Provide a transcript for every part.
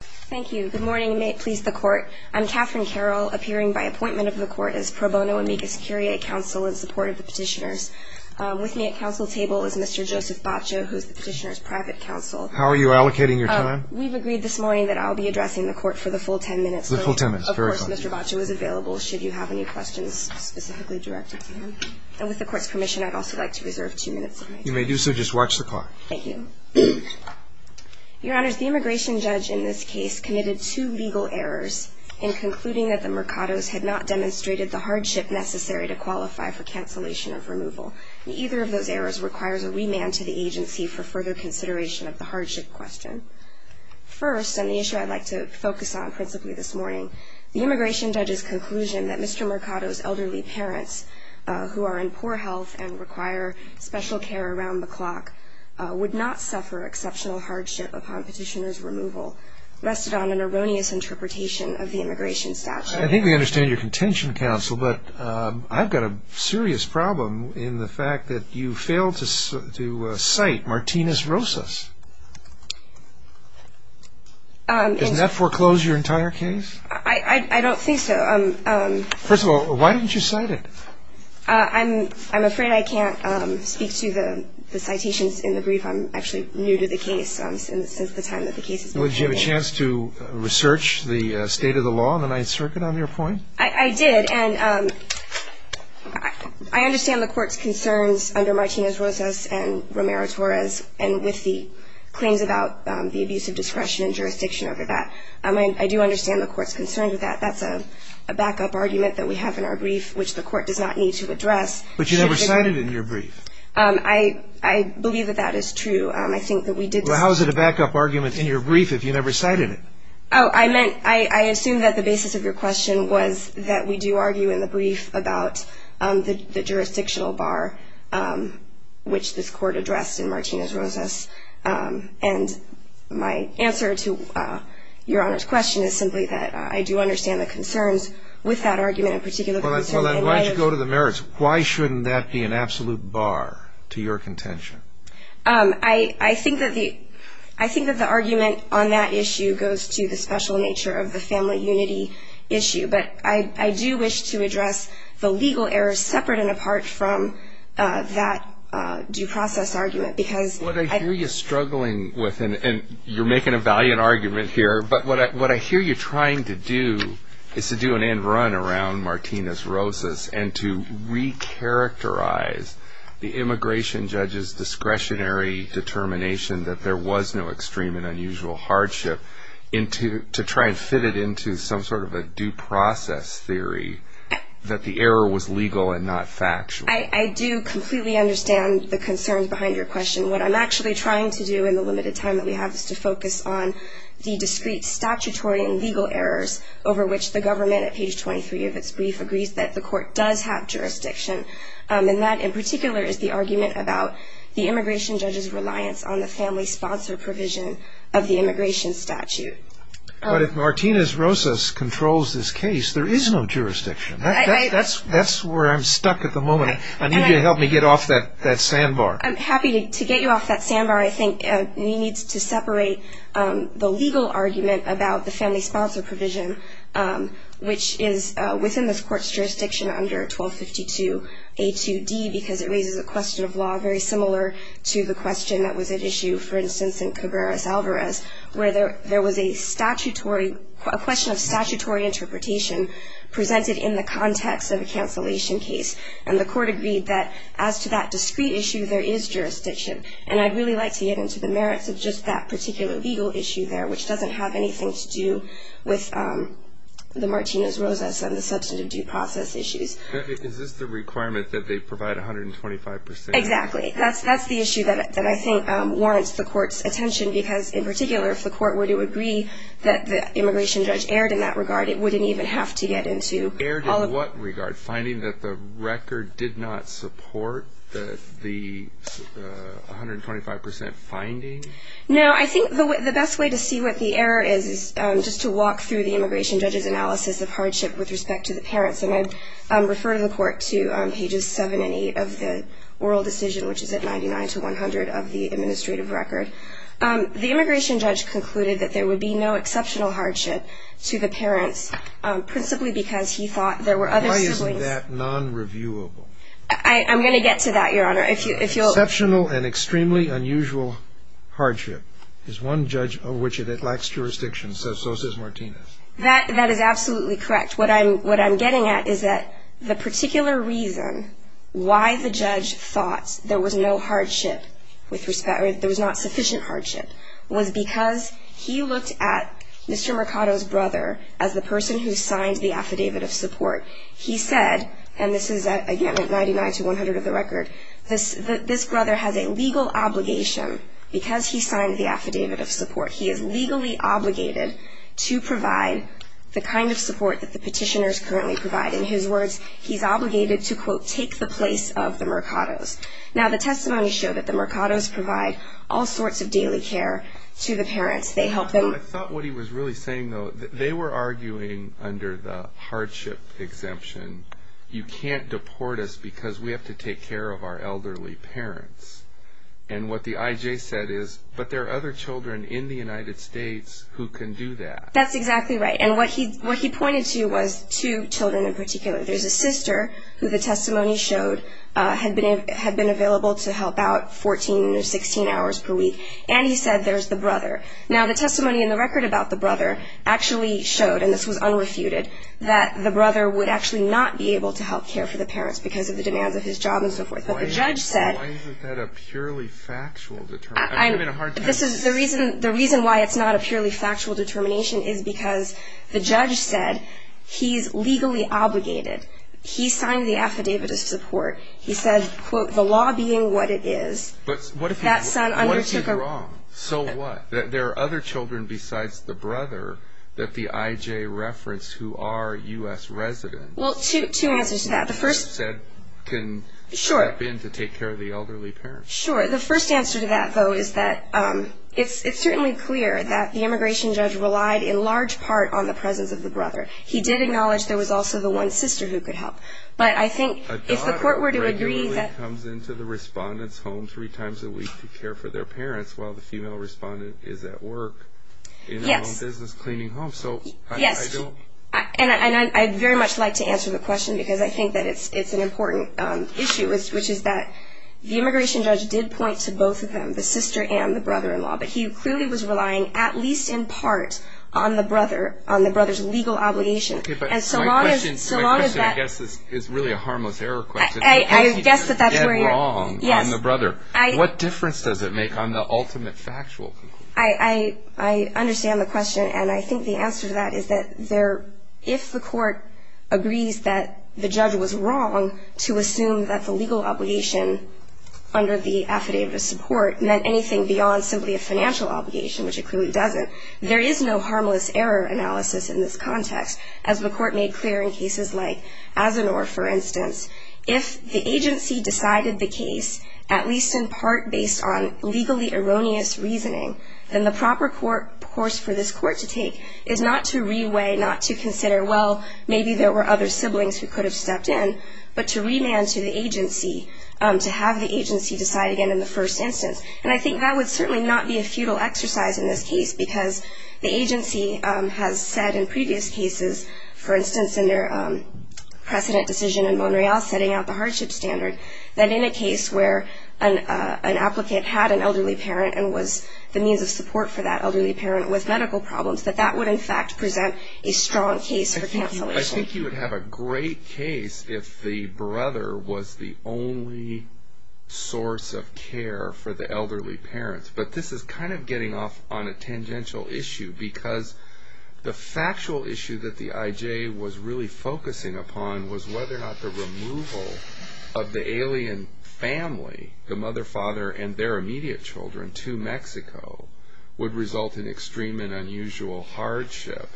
Thank you. Good morning, and may it please the court. I'm Katherine Carroll, appearing by appointment of the court as pro bono amicus curiae counsel in support of the petitioners. With me at council table is Mr. Joseph Baccio, who is the petitioner's private counsel. How are you allocating your time? We've agreed this morning that I'll be addressing the court for the full ten minutes. The full ten minutes. Very good. Of course, Mr. Baccio is available should you have any questions specifically directed to him. And with the court's permission, I'd also like to reserve two minutes of my time. You may do so. Just watch the clock. Thank you. Your Honors, the immigration judge in this case committed two legal errors in concluding that the Mercados had not demonstrated the hardship necessary to qualify for cancellation of removal. And either of those errors requires a remand to the agency for further consideration of the hardship question. First, on the issue I'd like to focus on principally this morning, the immigration judge's conclusion that Mr. Mercado's elderly parents, who are in poor health and require special care around the clock, would not suffer exceptional hardship upon petitioner's removal, rested on an erroneous interpretation of the immigration statute. I think we understand your contention, counsel, but I've got a serious problem in the fact that you failed to cite Martinez-Rosas. Doesn't that foreclose your entire case? I don't think so. First of all, why didn't you cite it? I'm afraid I can't speak to the citations in the brief. I'm actually new to the case since the time that the case has been handled. Did you have a chance to research the state of the law in the Ninth Circuit on your point? I did. And I understand the Court's concerns under Martinez-Rosas and Romero-Torres and with the claims about the abuse of discretion and jurisdiction over that. I do understand the Court's concerns with that. That's a backup argument that we have in our brief, which the Court does not need to address. But you never cited it in your brief. I believe that that is true. I think that we did. Well, how is it a backup argument in your brief if you never cited it? Oh, I assume that the basis of your question was that we do argue in the brief about the jurisdictional bar, which this Court addressed in Martinez-Rosas. And my answer to Your Honor's question is simply that I do understand the concerns with that argument in particular. Well, then, why don't you go to the merits? Why shouldn't that be an absolute bar to your contention? I think that the argument on that issue goes to the special nature of the family unity issue. But I do wish to address the legal errors separate and apart from that due process argument because I think it's important. I hear you struggling with, and you're making a valiant argument here, but what I hear you trying to do is to do an end run around Martinez-Rosas and to recharacterize the immigration judge's discretionary determination that there was no extreme and unusual hardship to try and fit it into some sort of a due process theory that the error was legal and not factual. I do completely understand the concerns behind your question. What I'm actually trying to do in the limited time that we have is to focus on the discrete statutory and legal errors over which the government, at page 23 of its brief, agrees that the Court does have jurisdiction. And that in particular is the argument about the immigration judge's reliance on the family sponsor provision of the immigration statute. But if Martinez-Rosas controls this case, there is no jurisdiction. That's where I'm stuck at the moment. I need you to help me get off that sandbar. I'm happy to get you off that sandbar. I think we need to separate the legal argument about the family sponsor provision, which is within this Court's jurisdiction under 1252A2D, because it raises a question of law very similar to the question that was at issue, for instance, in Cabreras-Alvarez, where there was a question of statutory interpretation presented in the context of a cancellation case. And the Court agreed that as to that discrete issue, there is jurisdiction. And I'd really like to get into the merits of just that particular legal issue there, which doesn't have anything to do with the Martinez-Rosas and the substantive due process issues. Is this the requirement that they provide 125 percent? Exactly. That's the issue that I think warrants the Court's attention, because in particular, if the Court were to agree that the immigration judge erred in that regard, it wouldn't even have to get into all of the other issues. Erred in what regard? Finding that the record did not support the 125 percent finding? No. I think the best way to see what the error is, is just to walk through the immigration judge's analysis of hardship with respect to the parents. And I'd refer the Court to pages 7 and 8 of the oral decision, which is at 99 to 100, of the administrative record. The immigration judge concluded that there would be no exceptional hardship to the parents, principally because he thought there were other siblings. Why isn't that non-reviewable? I'm going to get to that, Your Honor. Exceptional and extremely unusual hardship is one judge over which it lacks jurisdiction, says Rosas-Martinez. That is absolutely correct. What I'm getting at is that the particular reason why the judge thought there was no hardship with respect was because he looked at Mr. Mercado's brother as the person who signed the affidavit of support. He said, and this is again at 99 to 100 of the record, this brother has a legal obligation because he signed the affidavit of support. He is legally obligated to provide the kind of support that the petitioners currently provide. In his words, he's obligated to, quote, take the place of the Mercados. Now, the testimony showed that the Mercados provide all sorts of daily care to the parents. They help them. I thought what he was really saying, though, they were arguing under the hardship exemption, you can't deport us because we have to take care of our elderly parents. And what the IJ said is, but there are other children in the United States who can do that. That's exactly right. And what he pointed to was two children in particular. There's a sister who the testimony showed had been available to help out 14 or 16 hours per week, and he said there's the brother. Now, the testimony in the record about the brother actually showed, and this was unrefuted, that the brother would actually not be able to help care for the parents because of the demands of his job and so forth. But the judge said. Why isn't that a purely factual determination? The reason why it's not a purely factual determination is because the judge said he's legally obligated. He signed the affidavit of support. He said, quote, the law being what it is. But what if he's wrong? So what? There are other children besides the brother that the IJ referenced who are U.S. residents. Well, two answers to that. The first said can step in to take care of the elderly parents. Sure. The first answer to that, though, is that it's certainly clear that the immigration judge relied in large part on the presence of the brother. He did acknowledge there was also the one sister who could help. But I think if the court were to agree that. A daughter regularly comes into the respondent's home three times a week to care for their parents while the female respondent is at work in her own business cleaning homes. So I don't. Yes. And I'd very much like to answer the question because I think that it's an important issue, which is that the immigration judge did point to both of them, the sister and the brother-in-law. But he clearly was relying at least in part on the brother, on the brother's legal obligation. And so long as that. My question, I guess, is really a harmless error question. I guess that that's where you're at. How does he get wrong on the brother? What difference does it make on the ultimate factual conclusion? I understand the question. And I think the answer to that is that if the court agrees that the judge was wrong to assume that the legal obligation under the affidavit of support meant anything beyond simply a financial obligation, which it clearly doesn't, there is no harmless error analysis in this context. As the court made clear in cases like Azenor, for instance, if the agency decided the case, at least in part based on legally erroneous reasoning, then the proper course for this court to take is not to reweigh, not to consider, well, maybe there were other siblings who could have stepped in, but to remand to the agency, to have the agency decide again in the first instance. And I think that would certainly not be a futile exercise in this case because the agency has said in previous cases, for instance, in their precedent decision in Monreal setting out the hardship standard, that in a case where an applicant had an elderly parent and was the means of support for that elderly parent with medical problems, that that would in fact present a strong case for cancellation. I think you would have a great case if the brother was the only source of care for the elderly parents. But this is kind of getting off on a tangential issue because the factual issue that the IJ was really focusing upon was whether or not the removal of the alien family, the mother, father, and their immediate children to Mexico, would result in extreme and unusual hardship.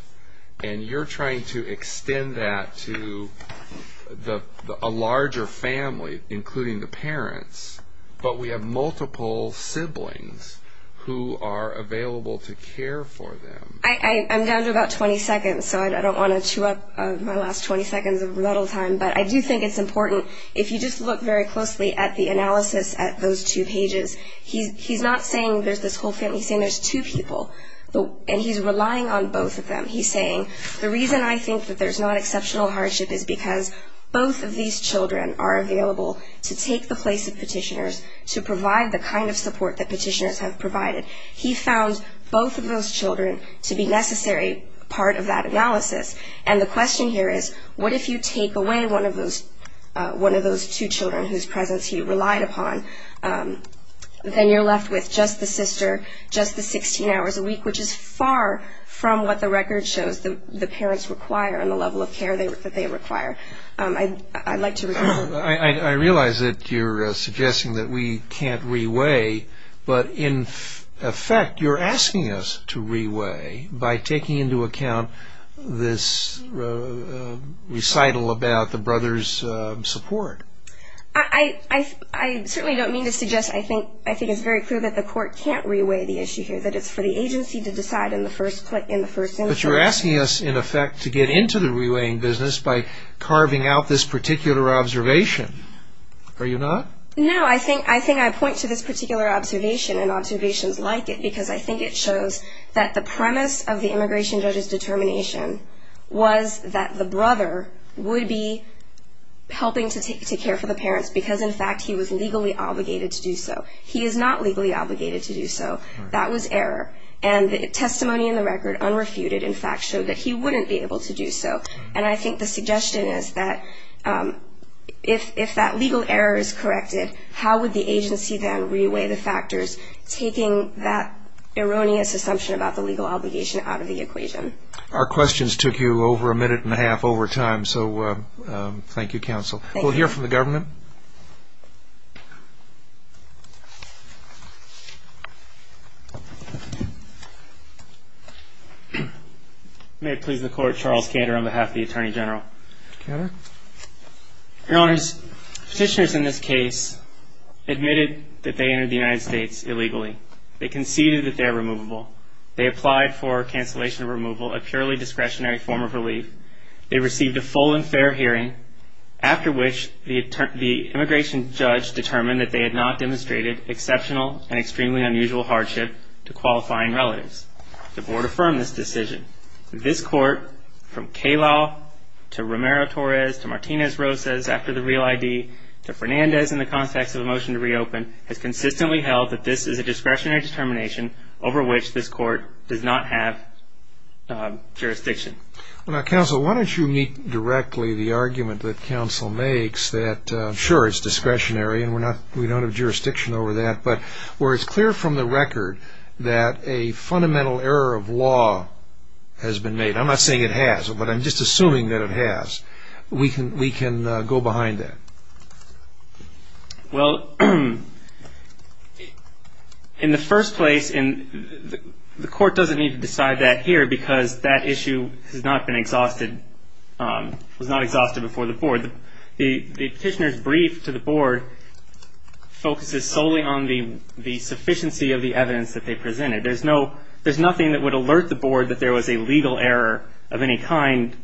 And you're trying to extend that to a larger family, including the parents, but we have multiple siblings who are available to care for them. I'm down to about 20 seconds, so I don't want to chew up my last 20 seconds of rebuttal time. But I do think it's important, if you just look very closely at the analysis at those two pages, he's not saying there's this whole family, he's saying there's two people. And he's relying on both of them. He's saying the reason I think that there's not exceptional hardship is because both of these children are available to take the place of petitioners, to provide the kind of support that petitioners have provided. He found both of those children to be necessary part of that analysis. And the question here is, what if you take away one of those two children whose presence he relied upon? Then you're left with just the sister, just the 16 hours a week, which is far from what the record shows the parents require and the level of care that they require. I'd like to repeat. I realize that you're suggesting that we can't re-weigh, but in effect, you're asking us to re-weigh by taking into account this recital about the brothers' support. I certainly don't mean to suggest, I think it's very clear that the court can't re-weigh the issue here, that it's for the agency to decide in the first instance. But you're asking us, in effect, to get into the re-weighing business by carving out this particular observation. Are you not? No, I think I point to this particular observation, and observations like it, because I think it shows that the premise of the immigration judge's determination was that the brother would be helping to care for the parents because, in fact, he was legally obligated to do so. He is not legally obligated to do so. That was error. And the testimony in the record unrefuted, in fact, showed that he wouldn't be able to do so. And I think the suggestion is that if that legal error is corrected, how would the agency then re-weigh the factors, taking that erroneous assumption about the legal obligation out of the equation? Our questions took you over a minute and a half over time, so thank you, counsel. We'll hear from the government. May it please the Court, Charles Cantor on behalf of the Attorney General. Cantor. Your Honors, petitioners in this case admitted that they entered the United States illegally. They conceded that they're removable. They applied for cancellation of removal, a purely discretionary form of relief. They received a full and fair hearing, after which the immigration judge determined that they had not demonstrated exceptional and extremely unusual hardship to qualifying relatives. The Board affirmed this decision. This Court, from Calow to Romero-Torres to Martinez-Rosas after the real ID, to Fernandez in the context of a motion to reopen, has consistently held that this is a discretionary determination over which this Court does not have jurisdiction. Counsel, why don't you meet directly the argument that counsel makes that, sure, it's discretionary and we don't have jurisdiction over that, but where it's clear from the record that a fundamental error of law has been made. I'm not saying it has, but I'm just assuming that it has. We can go behind that. Well, in the first place, the Court doesn't need to decide that here because that issue has not been exhausted, was not exhausted before the Board. The petitioner's brief to the Board focuses solely on the sufficiency of the evidence that they presented. There's nothing that would alert the Board that there was a legal error of any kind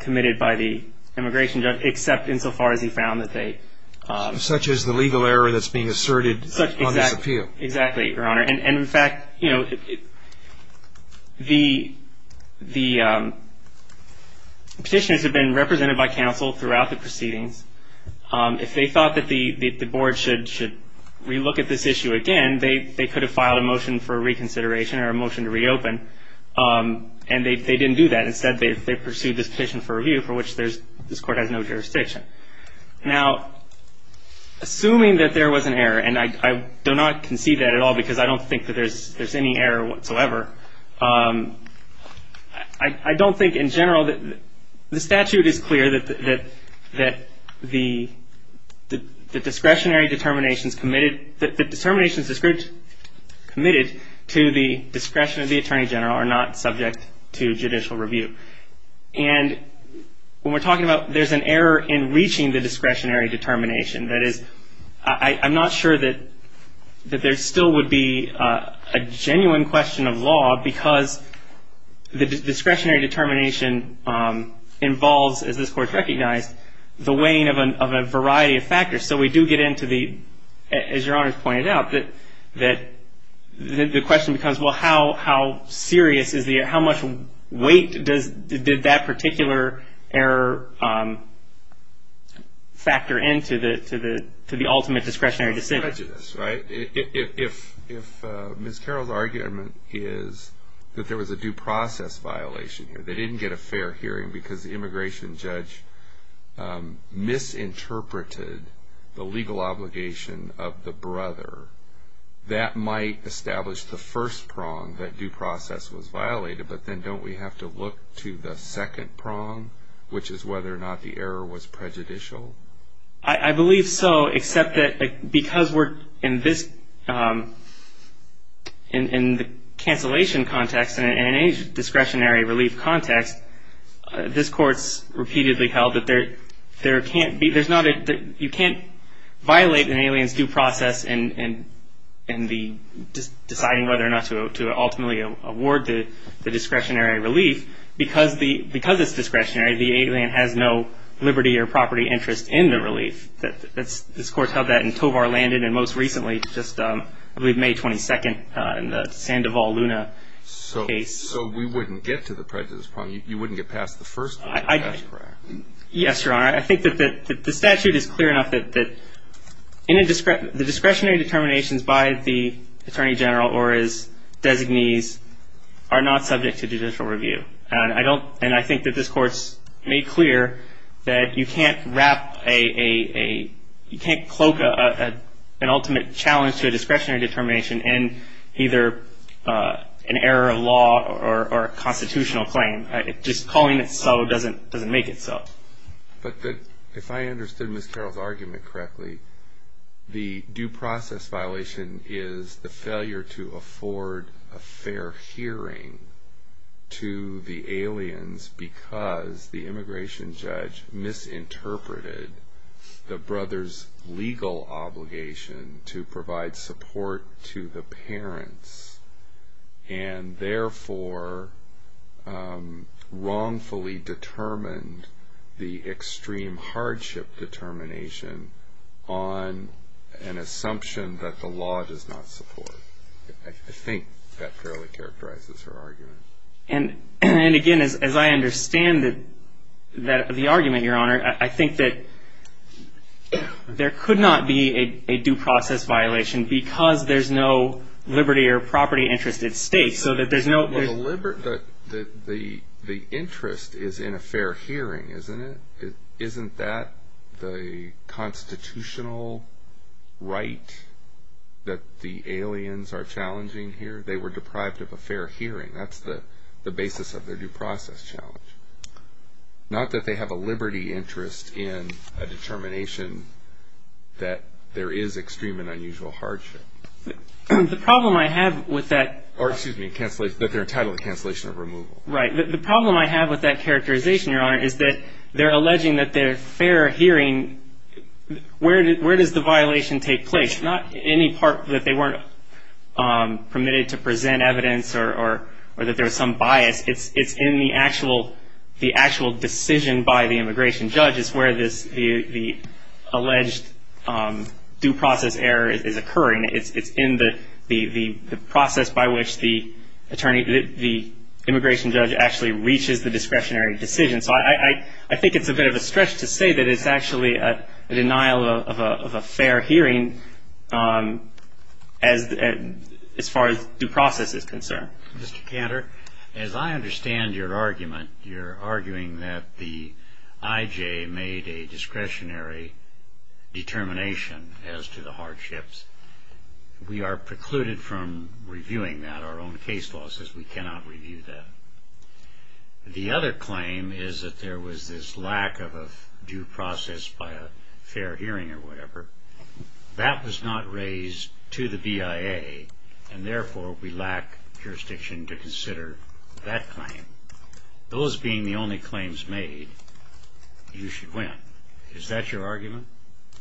committed by the immigration judge, except insofar as he found that they... Such as the legal error that's being asserted on this appeal. Exactly, Your Honor. And, in fact, the petitioners have been represented by counsel throughout the proceedings. If they thought that the Board should relook at this issue again, they could have filed a motion for reconsideration or a motion to reopen, and they didn't do that. Instead, they pursued this petition for review, for which this Court has no jurisdiction. Now, assuming that there was an error, and I do not concede that at all because I don't think that there's any error whatsoever, I don't think in general that... The statute is clear that the discretionary determinations committed... And when we're talking about... There's an error in reaching the discretionary determination. That is, I'm not sure that there still would be a genuine question of law because the discretionary determination involves, as this Court recognized, the weighing of a variety of factors. So we do get into the... Did that particular error factor into the ultimate discretionary decision? It's prejudice, right? If Ms. Carroll's argument is that there was a due process violation here, they didn't get a fair hearing because the immigration judge misinterpreted the legal obligation of the brother, that might establish the first prong that due process was violated, but then don't we have to look to the second prong, which is whether or not the error was prejudicial? I believe so, except that because we're in this... In the cancellation context and in any discretionary relief context, this Court's repeatedly held that there can't be... You can't violate an alien's due process in deciding whether or not to ultimately award the discretionary relief because it's discretionary. The alien has no liberty or property interest in the relief. This Court held that in Tovar Landon and most recently, I believe May 22nd, in the Sandoval Luna case. So we wouldn't get to the prejudice prong. You wouldn't get past the first one. That's correct. Yes, Your Honor. I think that the statute is clear enough that the discretionary determinations by the Attorney General or his designees are not subject to judicial review, and I think that this Court's made clear that you can't wrap a... discretionary determination in either an error of law or a constitutional claim. Just calling it so doesn't make it so. But if I understood Ms. Carroll's argument correctly, the due process violation is the failure to afford a fair hearing to the aliens because the immigration judge misinterpreted the brother's legal obligation to provide support to the parents and therefore wrongfully determined the extreme hardship determination on an assumption that the law does not support. I think that fairly characterizes her argument. And again, as I understand the argument, Your Honor, I think that there could not be a due process violation because there's no liberty or property interest at stake. The interest is in a fair hearing, isn't it? Isn't that the constitutional right that the aliens are challenging here? They were deprived of a fair hearing. That's the basis of their due process challenge. Not that they have a liberty interest in a determination that there is extreme and unusual hardship. The problem I have with that... Or excuse me, that they're entitled to cancellation of removal. Right. The problem I have with that characterization, Your Honor, is that they're alleging that they're fair hearing. Where does the violation take place? It's not any part that they weren't permitted to present evidence or that there was some bias. It's in the actual decision by the immigration judge is where the alleged due process error is occurring. It's in the process by which the immigration judge actually reaches the discretionary decision. So I think it's a bit of a stretch to say that it's actually a denial of a fair hearing as far as due process is concerned. Mr. Cantor, as I understand your argument, you're arguing that the IJ made a discretionary determination as to the hardships. We are precluded from reviewing that. Our own case law says we cannot review that. The other claim is that there was this lack of a due process by a fair hearing or whatever. That was not raised to the BIA, and therefore we lack jurisdiction to consider that claim. Those being the only claims made, you should win. Is that your argument?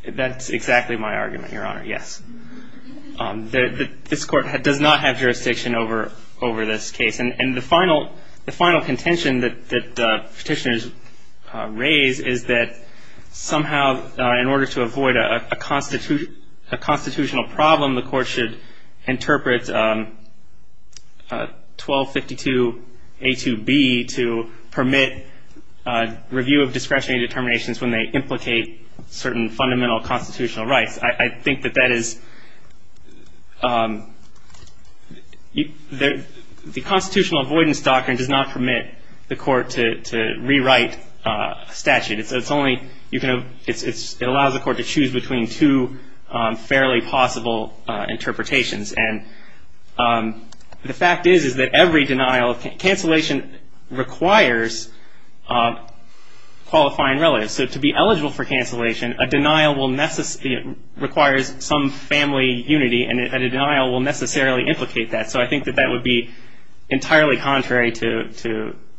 That's exactly my argument, Your Honor, yes. This court does not have jurisdiction over this case, and the final contention that the petitioners raise is that somehow in order to avoid a constitutional problem, the court should interpret 1252A2B to permit review of discretionary determinations when they implicate certain fundamental constitutional rights. I think that that is – the constitutional avoidance doctrine does not permit the court to rewrite a statute. It's only – it allows the court to choose between two fairly possible interpretations. And the fact is that every denial – cancellation requires qualifying relatives. So to be eligible for cancellation, a denial will – requires some family unity, and a denial will necessarily implicate that. So I think that that would be entirely contrary to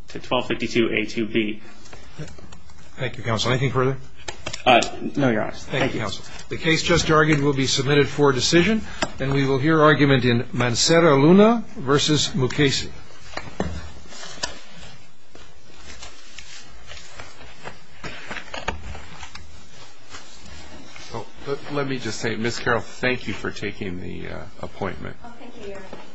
1252A2B. Thank you, Counsel. Anything further? No, Your Honor. Thank you. Thank you, Counsel. The case just argued will be submitted for decision, and we will hear argument in Mancera-Luna v. Mukasey. Let me just say, Ms. Carroll, thank you for taking the appointment. Oh, thank you, Your Honor.